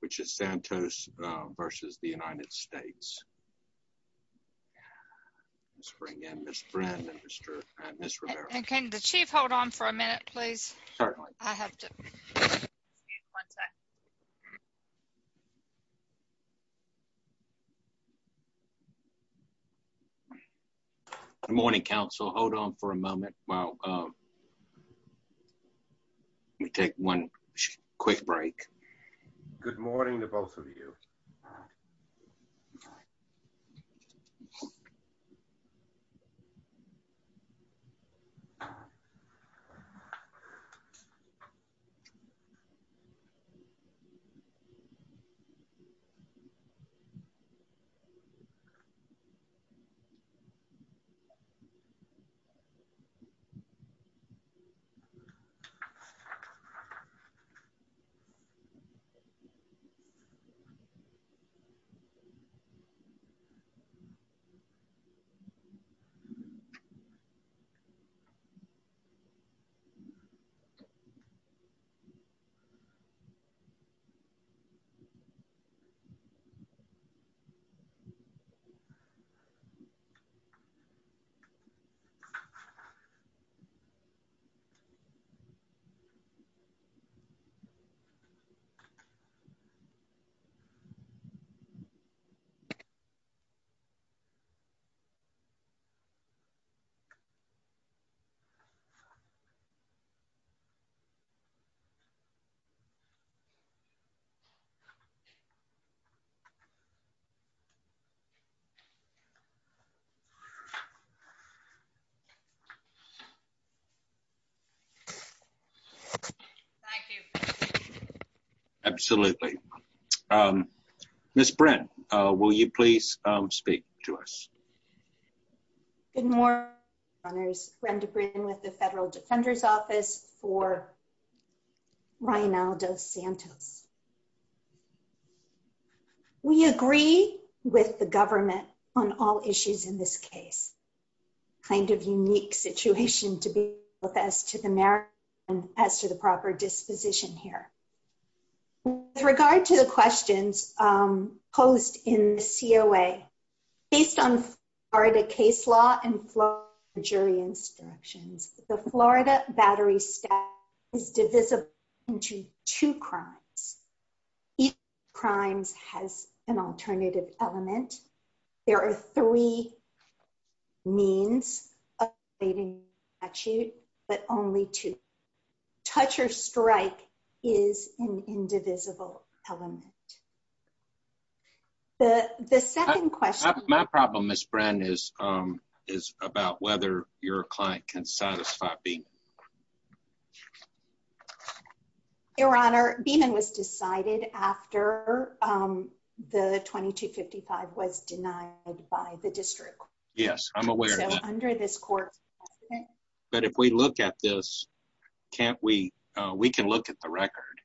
which is Santos v. the United States. Let's bring in Ms. Brennan and Ms. Rivera. And can the chief hold on for a minute, please? Certainly. One sec. Good morning, council. Hold on for a moment while we take one quick break. Good morning to both of you. Good morning. Thank you. Absolutely. Ms. Brennan, will you please speak to us? Good morning, Your Honors. Brenda Brennan with the Federal Defender's Office for Reinaldo Santos. We agree with the government on all issues in this case. It's a kind of unique situation to be in both as to the merit and as to the proper disposition here. With regard to the questions posed in the COA, based on Florida case law and Florida jury instructions, the Florida battery statute is divisible into two crimes. Each of the crimes has an alternative element. There are three means of updating the statute, but only two. Touch or strike is an indivisible element. The second question... My problem, Ms. Brennan, is about whether your client can satisfy Beeman. Your Honor, Beeman was decided after the 2255 was denied by the district. Yes, I'm aware of that. But if we look at this, we can look at the record.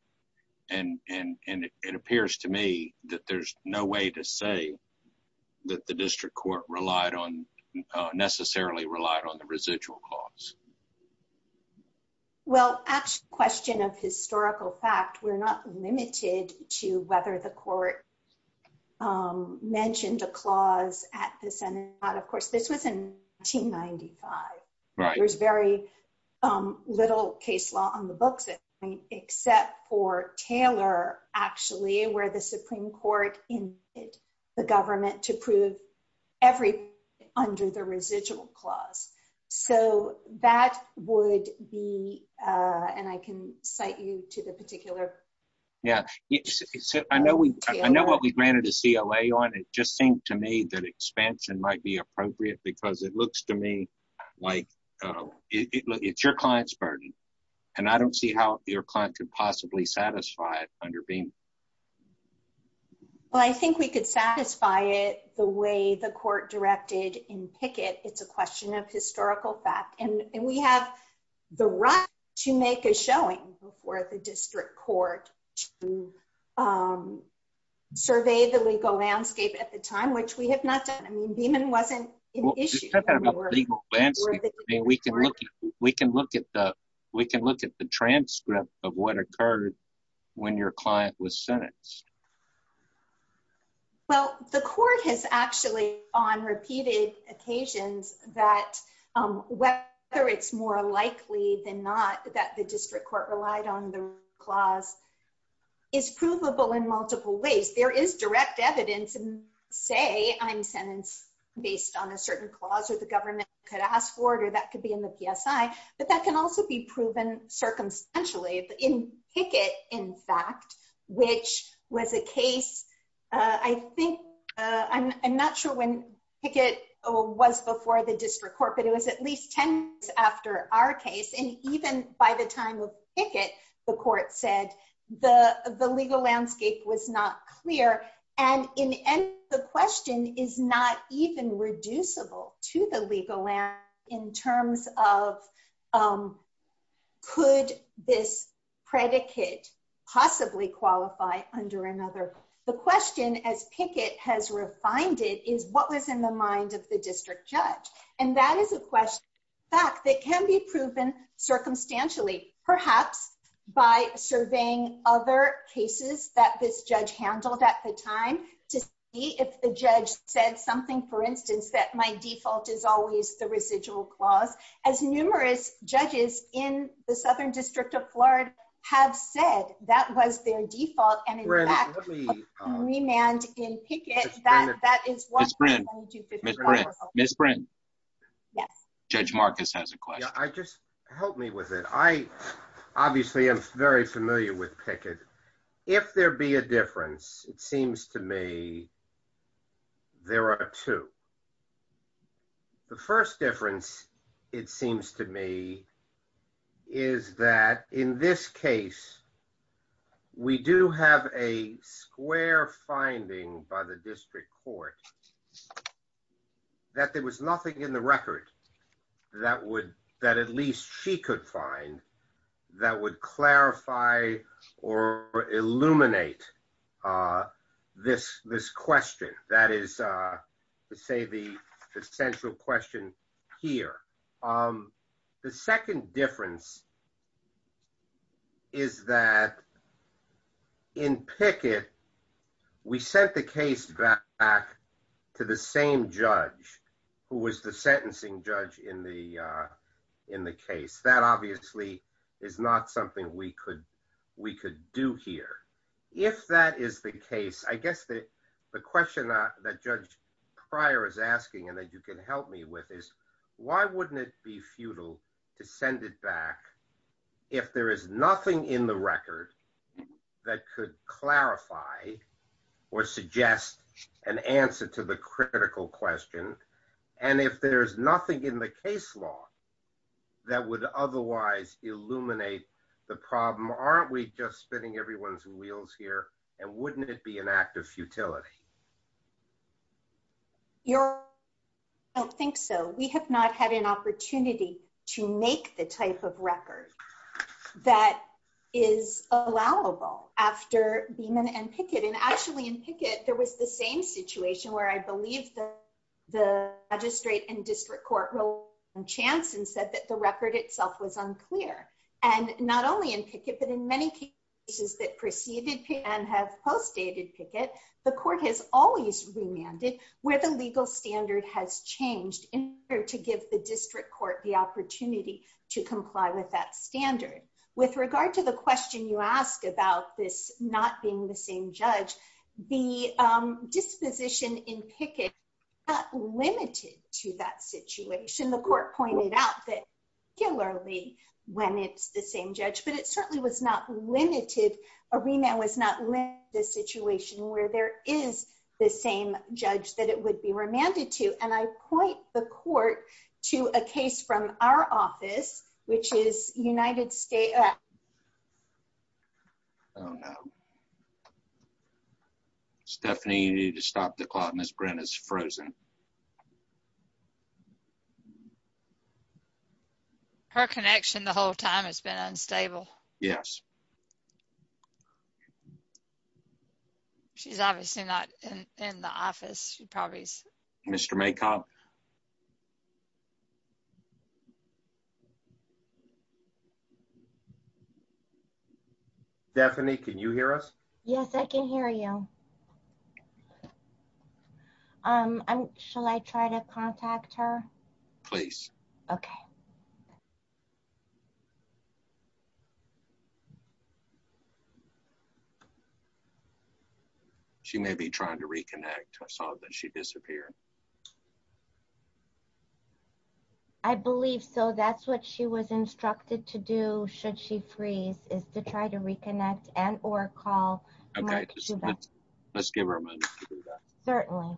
It appears to me that there's no way to say that the district court necessarily relied on the residual clause. Well, that's a question of historical fact. We're not limited to whether the court mentioned a clause at the Senate. Of course, this was in 1995. There's very little case law on the books, except for Taylor, actually, where the Supreme Court invited the government to prove everything under the residual clause. So that would be... And I can cite you to the particular... Yeah. I know what we granted a CLA on. It just seemed to me that expansion might be appropriate because it looks to me like it's your client's burden. And I don't see how your client could possibly satisfy it under Beeman. Well, I think we could satisfy it the way the court directed in Pickett. It's a question of historical fact. And we have the right to make a showing before the district court to survey the legal landscape at the time, which we have not done. I mean, Beeman wasn't an issue. Just talk about the legal landscape. We can look at the transcript of what occurred when your client was sentenced. Well, the court has actually, on repeated occasions, that whether it's more likely than not that the district court relied on the clause is provable in multiple ways. There is direct evidence. Say I'm sentenced based on a certain clause, or the government could ask for it, or that could be in the PSI. But that can also be proven circumstantially. In Pickett, in fact, which was a case, I think, I'm not sure when Pickett was before the district court, but it was at least 10 years after our case. And even by the time of Pickett, the court said the legal landscape was not clear. And the question is not even reducible to the legal landscape in terms of could this predicate possibly qualify under another? The question, as Pickett has refined it, is what was in the mind of the district judge? And that is a question, in fact, that can be proven circumstantially, perhaps by surveying other cases that this judge handled at the time to see if the judge said something. For instance, that my default is always the residual clause. As numerous judges in the Southern District of Florida have said, that was their default. And in fact, remand in Pickett, that is what the 2255 was. Ms. Bryn. Yes. Judge Marcus has a question. Just help me with it. I obviously am very familiar with Pickett. If there be a difference, it seems to me there are two. The first difference, it seems to me, is that in this case, we do have a square finding by the district court that there was nothing in the record that at least she could find that would clarify or illuminate this question. That is to say the central question here. The second difference is that in Pickett, we sent the case back to the same judge who was the sentencing judge in the case. That obviously is not something we could do here. If that is the case, I guess the question that Judge Pryor is asking and that you can help me with is, why wouldn't it be futile to send it back if there is nothing in the record that could clarify or suggest an answer to the critical question? If there is nothing in the case law that would otherwise illuminate the problem, aren't we just spinning everyone's wheels here? Wouldn't it be an act of futility? I don't think so. We have not had an opportunity to make the type of record that is allowable after Beeman and Pickett. Actually, in Pickett, there was the same situation where I believe the magistrate and district court rolled on chance and said that the record itself was unclear. Not only in Pickett, but in many cases that preceded and have postdated Pickett, the court has always remanded where the legal standard has changed in order to give the district court the opportunity to comply with that standard. With regard to the question you asked about this not being the same judge, the disposition in Pickett is not limited to that situation. The court pointed out that particularly when it's the same judge, but it certainly was not limited. Arena was not limited to the situation where there is the same judge that it would be remanded to. I point the court to a case from our office, which is United States. Oh, no. Stephanie, you need to stop the clock. Ms. Brennan is frozen. Her connection the whole time has been unstable. Yes. She's obviously not in the office. She probably is. Mr. Maycock. Definitely. Can you hear us? Yes, I can hear you. Shall I try to contact her? Please. Okay. She may be trying to reconnect. I saw that she disappeared. I believe so. That's what she was instructed to do. Should she freeze is to try to reconnect and or call. Let's give her a moment. Certainly. Okay. Okay. Okay. Okay. Okay.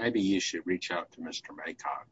Maybe you should reach out to Mr. Maycock.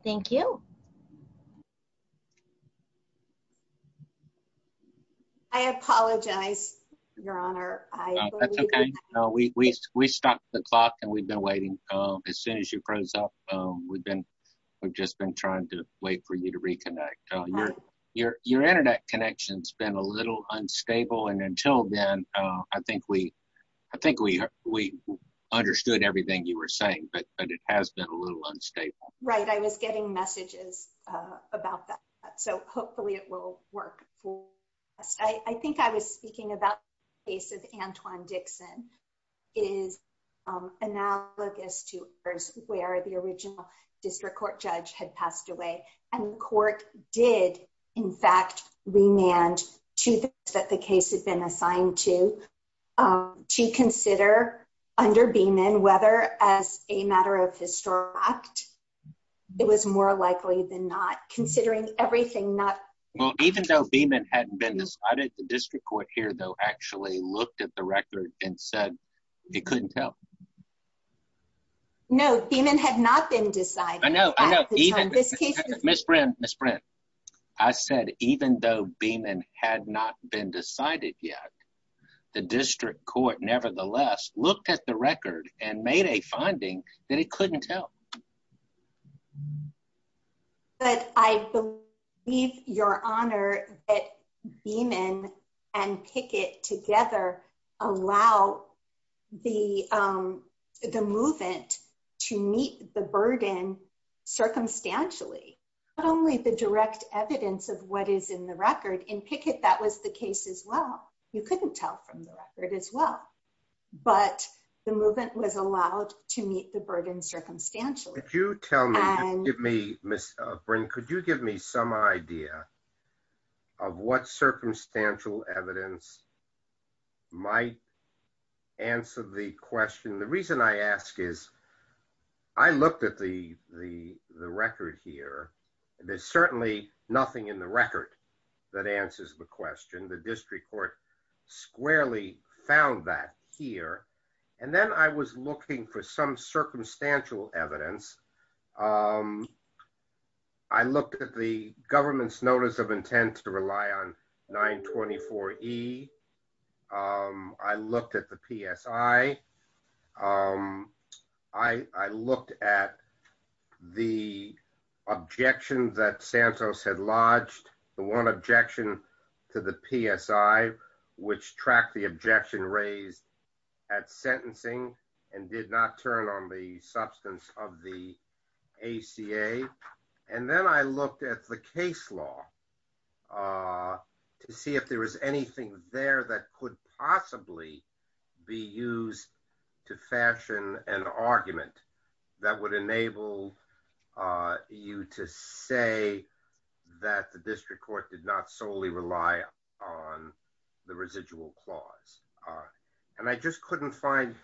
Thank you. I apologize, Your Honor. We stopped the clock and we've been waiting. As soon as you froze up, we've just been trying to wait for you to reconnect. Your Internet connection's been a little unstable. And until then, I think we understood everything you were saying, but it has been a little unstable. Right. I was getting messages about that. So hopefully it will work for us. I think I was speaking about the case of Antoine Dixon. It is analogous to where the original district court judge had passed away. And the court did, in fact, remand to that the case had been assigned to. To consider under Beeman, whether as a matter of historic act, it was more likely than not. Well, even though Beeman hadn't been decided, the district court here, though, actually looked at the record and said it couldn't tell. No, Beeman had not been decided. I know. I know. Miss Brent, Miss Brent. I said, even though Beeman had not been decided yet, the district court, nevertheless, looked at the record and made a finding that it couldn't tell. But I believe, Your Honor, that Beeman and Pickett together allowed the movement to meet the burden circumstantially. Not only the direct evidence of what is in the record. In Pickett, that was the case as well. You couldn't tell from the record as well. But the movement was allowed to meet the burden circumstantially. Could you tell me, Miss Brent, could you give me some idea of what circumstantial evidence might answer the question? The reason I ask is, I looked at the record here. There's certainly nothing in the record that answers the question. The district court squarely found that here. And then I was looking for some circumstantial evidence. I looked at the government's notice of intent to rely on 924E. I looked at the PSI. I looked at the objection that Santos had lodged. The one objection to the PSI, which tracked the objection raised at sentencing and did not turn on the substance of the ACA. And then I looked at the case law to see if there was anything there that could possibly be used to fashion an argument that would enable you to say that the district court did not solely rely on the residual clause. And I just couldn't find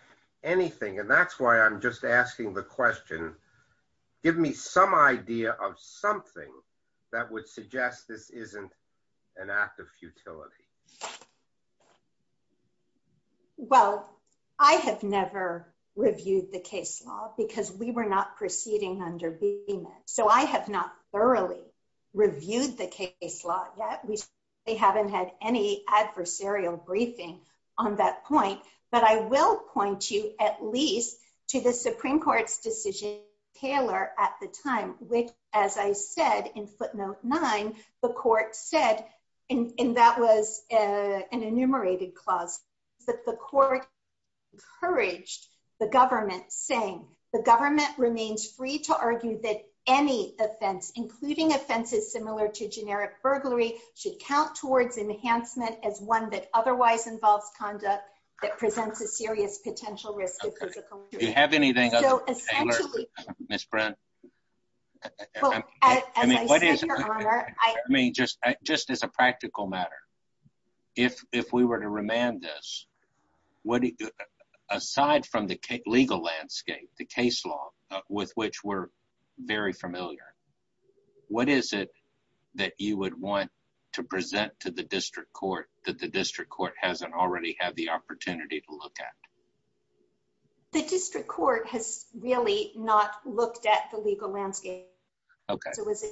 anything. And that's why I'm just asking the question. Give me some idea of something that would suggest this isn't an act of futility. Well, I have never reviewed the case law because we were not proceeding under BEMA. So I have not thoroughly reviewed the case law yet. We haven't had any adversarial briefing on that point. But I will point you at least to the Supreme Court's decision, Taylor, at the time, which, as I said in footnote nine, the court said, and that was an enumerated clause, that the court encouraged the government saying, the government remains free to argue that any offense, including offenses similar to generic burglary, should count towards enhancement as one that otherwise involves conduct that presents a serious potential risk of physical injury. Do you have anything other than Taylor, Ms. Brent? I mean, just as a practical matter, if we were to remand this, aside from the legal landscape, the case law, with which we're very familiar, what is it that you would want to present to the district court that the district court hasn't already had the opportunity to look at? The district court has really not looked at the legal landscape. OK. You said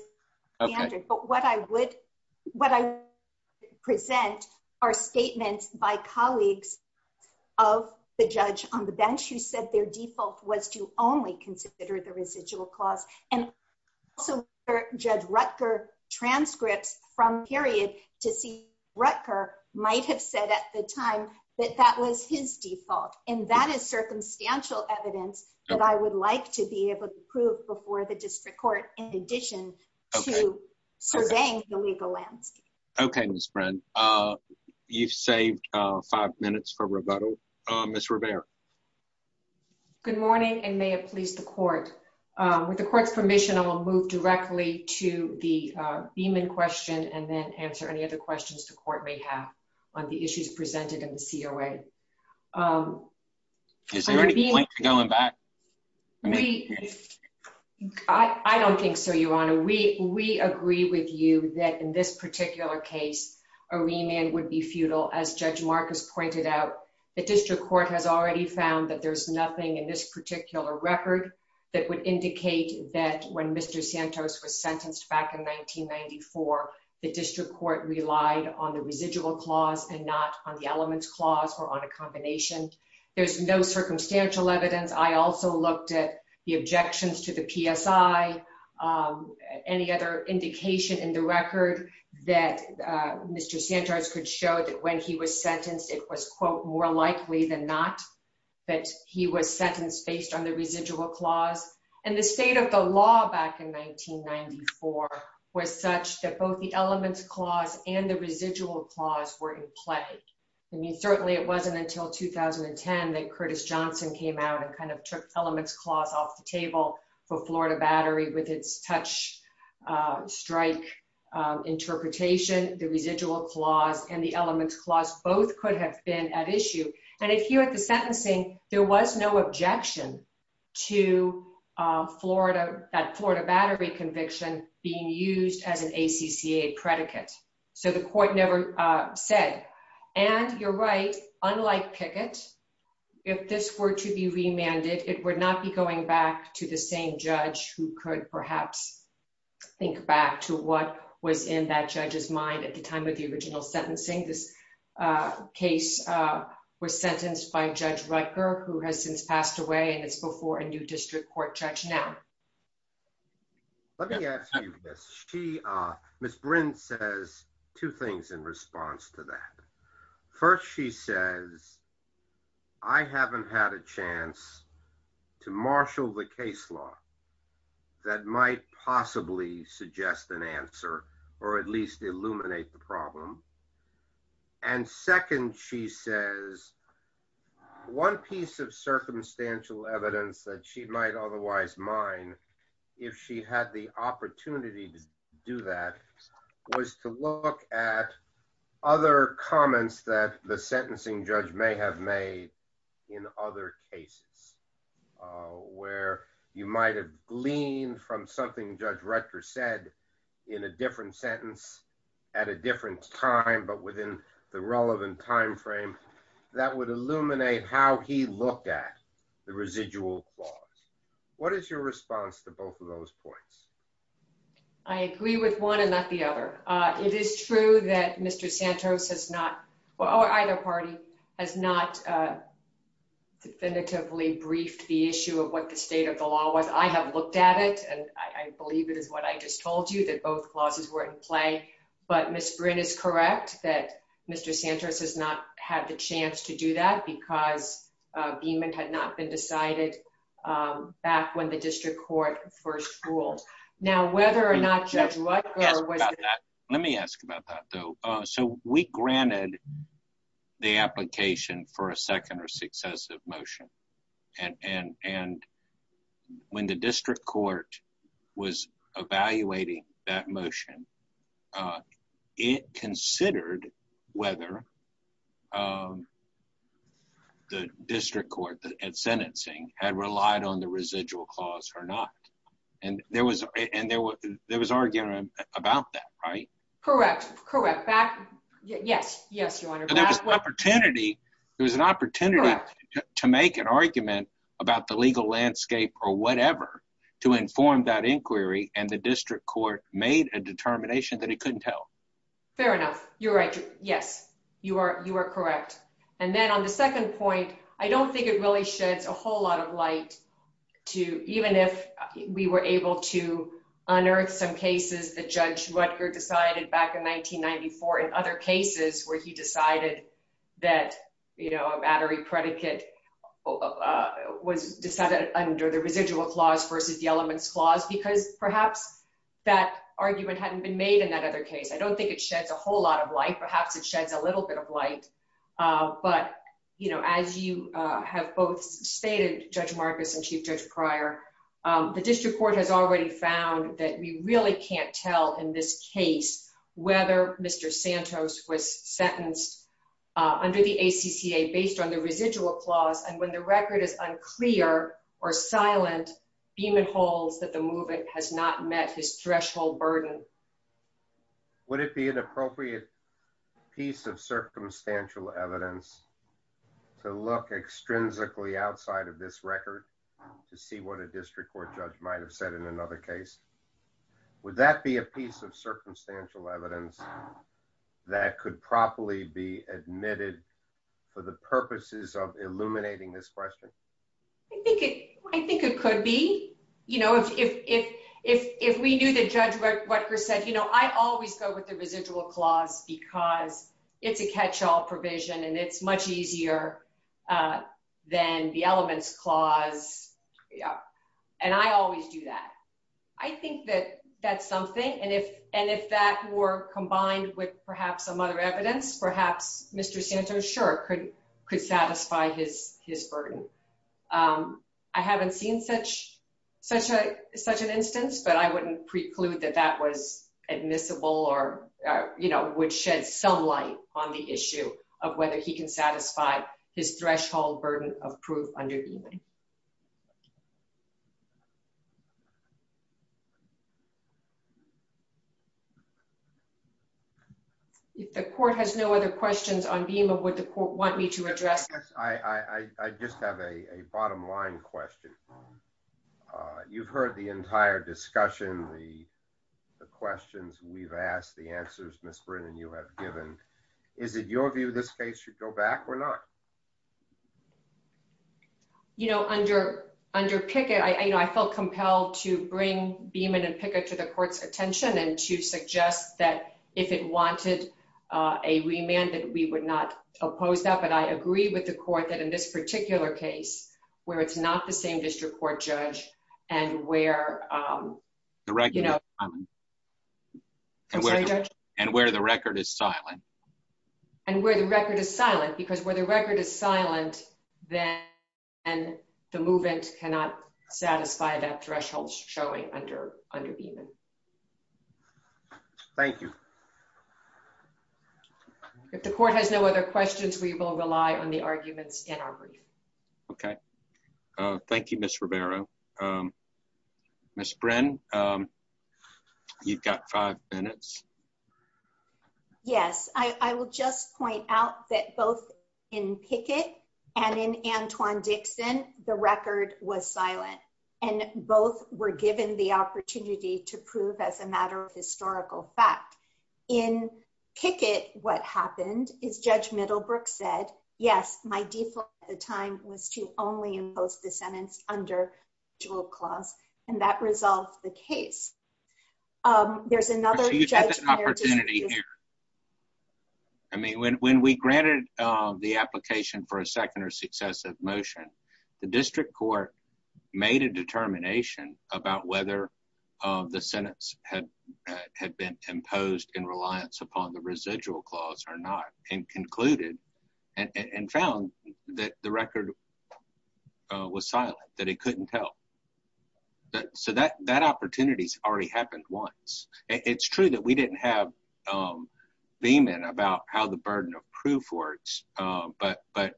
their default was to only consider the residual clause. And also Judge Rutger transcripts from period to see Rutger might have said at the time that that was his default. And that is circumstantial evidence that I would like to be able to prove before the district court in addition to surveying the legal landscape. OK, Ms. Brent. You've saved five minutes for rebuttal. Ms. Rivera. Good morning, and may it please the court. With the court's permission, I will move directly to the Beeman question and then answer any other questions the court may have on the issues presented in the COA. Is there any going back? I don't think so, Your Honor. We we agree with you that in this particular case, a remand would be futile. As Judge Marcus pointed out, the district court has already found that there's nothing in this particular record that would indicate that when Mr. Santos was sentenced back in 1994, the district court relied on the residual clause and not on the elements clause or on a combination. There's no circumstantial evidence. I also looked at the objections to the PSI, any other indication in the record that Mr. Santos could show that when he was sentenced, it was, quote, more likely than not that he was sentenced based on the residual clause. And the state of the law back in 1994 was such that both the elements clause and the residual clause were in play. I mean, certainly it wasn't until 2010 that Curtis Johnson came out and kind of took elements clause off the table for Florida Battery with its touch strike interpretation. The residual clause and the elements clause both could have been at issue. And if you at the sentencing, there was no objection to Florida, that Florida Battery conviction being used as an ACCA predicate. So the court never said. And you're right, unlike Pickett, if this were to be remanded, it would not be going back to the same judge who could perhaps think back to what was in that judge's mind at the time of the original sentencing. This case was sentenced by Judge Rutger, who has since passed away and is before a new district court judge now. Let me ask you this. She, Miss Bryn, says two things in response to that. First, she says, I haven't had a chance to marshal the case law that might possibly suggest an answer or at least illuminate the problem. And second, she says one piece of circumstantial evidence that she might otherwise mine if she had the opportunity to do that was to look at other comments that the sentencing judge may have made in other cases. Where you might have gleaned from something Judge Rutger said in a different sentence at a different time, but within the relevant time frame, that would illuminate how he looked at the residual clause. What is your response to both of those points? I agree with one and not the other. It is true that Mr. Santos has not, or either party, has not definitively briefed the issue of what the state of the law was. I have looked at it, and I believe it is what I just told you, that both clauses were in play. But Miss Bryn is correct that Mr. Santos has not had the chance to do that because the amendment had not been decided back when the district court first ruled. Let me ask about that, though. So we granted the application for a second or successive motion. And when the district court was evaluating that motion, it considered whether the district court at sentencing had relied on the residual clause or not. And there was arguing about that, right? Correct. Yes, Your Honor. There was an opportunity to make an argument about the legal landscape or whatever to inform that inquiry, and the district court made a determination that it couldn't tell. Fair enough. You're right. Yes, you are correct. And then on the second point, I don't think it really sheds a whole lot of light, even if we were able to unearth some cases that Judge Rutger decided back in 1994 and other cases where he decided that a battery predicate was decided under the residual clause versus the elements clause, because perhaps that argument hadn't been made in that other case. I don't think it sheds a whole lot of light. Perhaps it sheds a little bit of light. But, you know, as you have both stated, Judge Marcus and Chief Judge Pryor, the district court has already found that we really can't tell in this case whether Mr. Santos was sentenced under the ACCA based on the residual clause. And when the record is unclear or silent, Beeman holds that the movement has not met his threshold burden. Would it be an appropriate piece of circumstantial evidence to look extrinsically outside of this record to see what a district court judge might have said in another case? Would that be a piece of circumstantial evidence that could properly be admitted for the purposes of illuminating this question? I think it could be. You know, if we knew that Judge Rutger said, you know, I always go with the residual clause because it's a catch all provision and it's much easier than the elements clause. And I always do that. I think that that's something. And if that were combined with perhaps some other evidence, perhaps Mr. Santos, sure, could satisfy his burden. I haven't seen such an instance, but I wouldn't preclude that that was admissible or, you know, would shed some light on the issue of whether he can satisfy his threshold burden of proof under Beeman. If the court has no other questions on Beeman, would the court want me to address? I just have a bottom line question. You've heard the entire discussion, the questions we've asked, the answers, Ms. Brin, and you have given. Is it your view this case should go back or not? You know, under Pickett, I felt compelled to bring Beeman and Pickett to the court's attention and to suggest that if it wanted a remand, that we would not oppose that. But I agree with the court that in this particular case, where it's not the same district court judge and where, you know, And where the record is silent. And where the record is silent, because where the record is silent, then the movement cannot satisfy that threshold showing under Beeman. Thank you. If the court has no other questions, we will rely on the arguments in our brief. Okay. Thank you, Ms. Ribeiro. Ms. Brin, you've got five minutes. Yes, I will just point out that both in Pickett and in Antoine Dixon, the record was silent, and both were given the opportunity to prove as a matter of historical fact. In Pickett, what happened is Judge Middlebrook said, yes, my default at the time was to only impose the sentence under dual clause, and that resolved the case. There's another judge prior to this. I mean, when we granted the application for a second or successive motion, the district court made a determination about whether the sentence had been imposed in reliance upon the residual clause or not, and concluded and found that the record was silent, that it couldn't tell. So that opportunity has already happened once. It's true that we didn't have Beeman about how the burden of proof works, but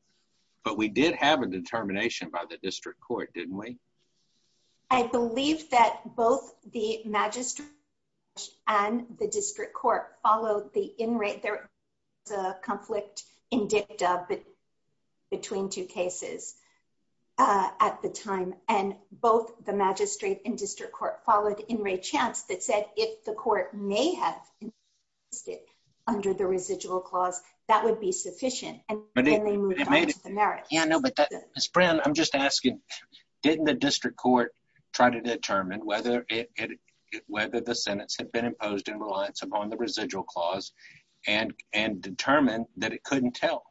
we did have a determination by the district court, didn't we? I believe that both the magistrate and the district court followed the in-rate. There was a conflict in dicta between two cases at the time, and both the magistrate and district court followed in-rate chance that said if the court may have imposed it under the residual clause, that would be sufficient, and then they moved on to the merits. Ms. Brown, I'm just asking, didn't the district court try to determine whether the sentence had been imposed in reliance upon the residual clause and determine that it couldn't tell?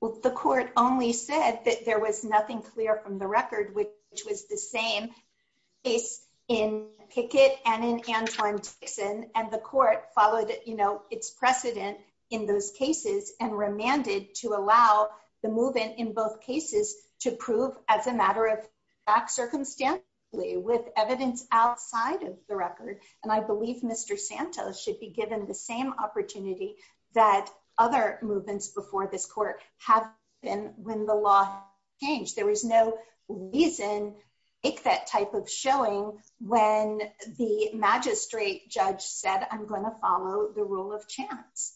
Well, the court only said that there was nothing clear from the record, which was the same case in Pickett and in Antwan-Dixon, and the court followed, you know, its precedent in those cases and remanded to allow the movement in both cases to prove as a matter of fact, circumstantially, with evidence outside of the record. And I believe Mr. Santos should be given the same opportunity that other movements before this court have been when the law changed. There was no reason to make that type of showing when the magistrate judge said, I'm going to follow the rule of chance.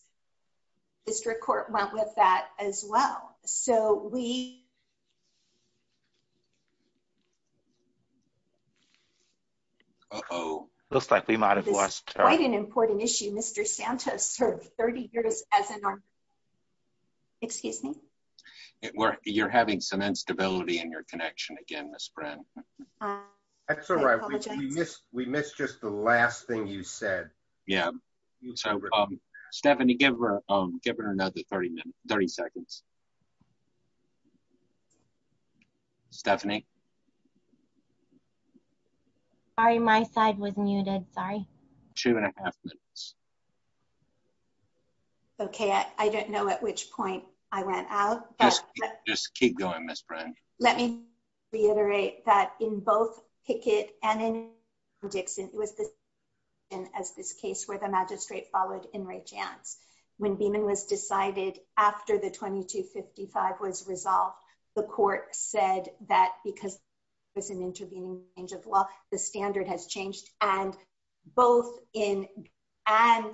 District court went with that as well. So we... Uh-oh. Looks like we might have lost her. This is quite an important issue. Mr. Santos served 30 years as an... Excuse me? You're having some instability in your connection again, Ms. Brown. That's all right. We missed just the last thing you said. Yeah. Stephanie, give her another 30 seconds. Stephanie. Sorry, my side was muted. Sorry. Two and a half minutes. Okay. I don't know at which point I went out. Just keep going, Ms. Brown. Let me reiterate that in both Pickett and in Dixon, it was this case where the magistrate followed in Ray Chance. When Beeman was decided after the 2255 was resolved, the court said that because it was an intervening change of law, the standard has changed. And both in... And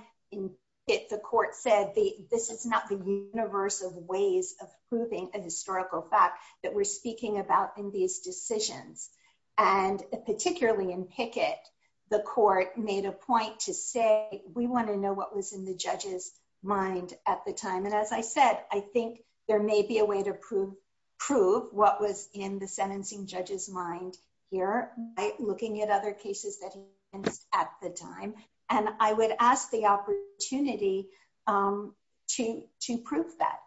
the court said, this is not the universe of ways of proving a historical fact that we're speaking about in these decisions. And particularly in Pickett, the court made a point to say, we want to know what was in the judge's mind at the time. And as I said, I think there may be a way to prove what was in the sentencing judge's mind here by looking at other cases that he has at the time. And I would ask the opportunity to prove that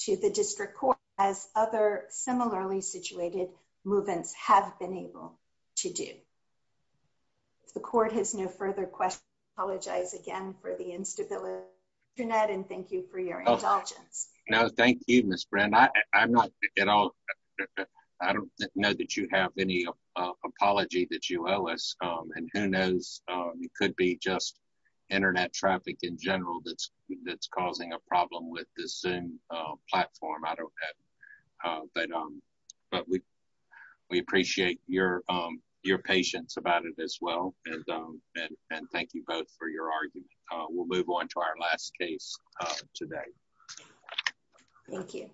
to the district court as other similarly situated movements have been able to do. If the court has no further questions, I apologize again for the instability, Jeanette, and thank you for your indulgence. No, thank you, Ms. Brown. I'm not at all... I don't know that you have any apology that you owe us. And who knows, it could be just internet traffic in general that's causing a problem with the Zoom platform. But we appreciate your patience about it as well. And thank you both for your argument. We'll move on to our last case today. Thank you.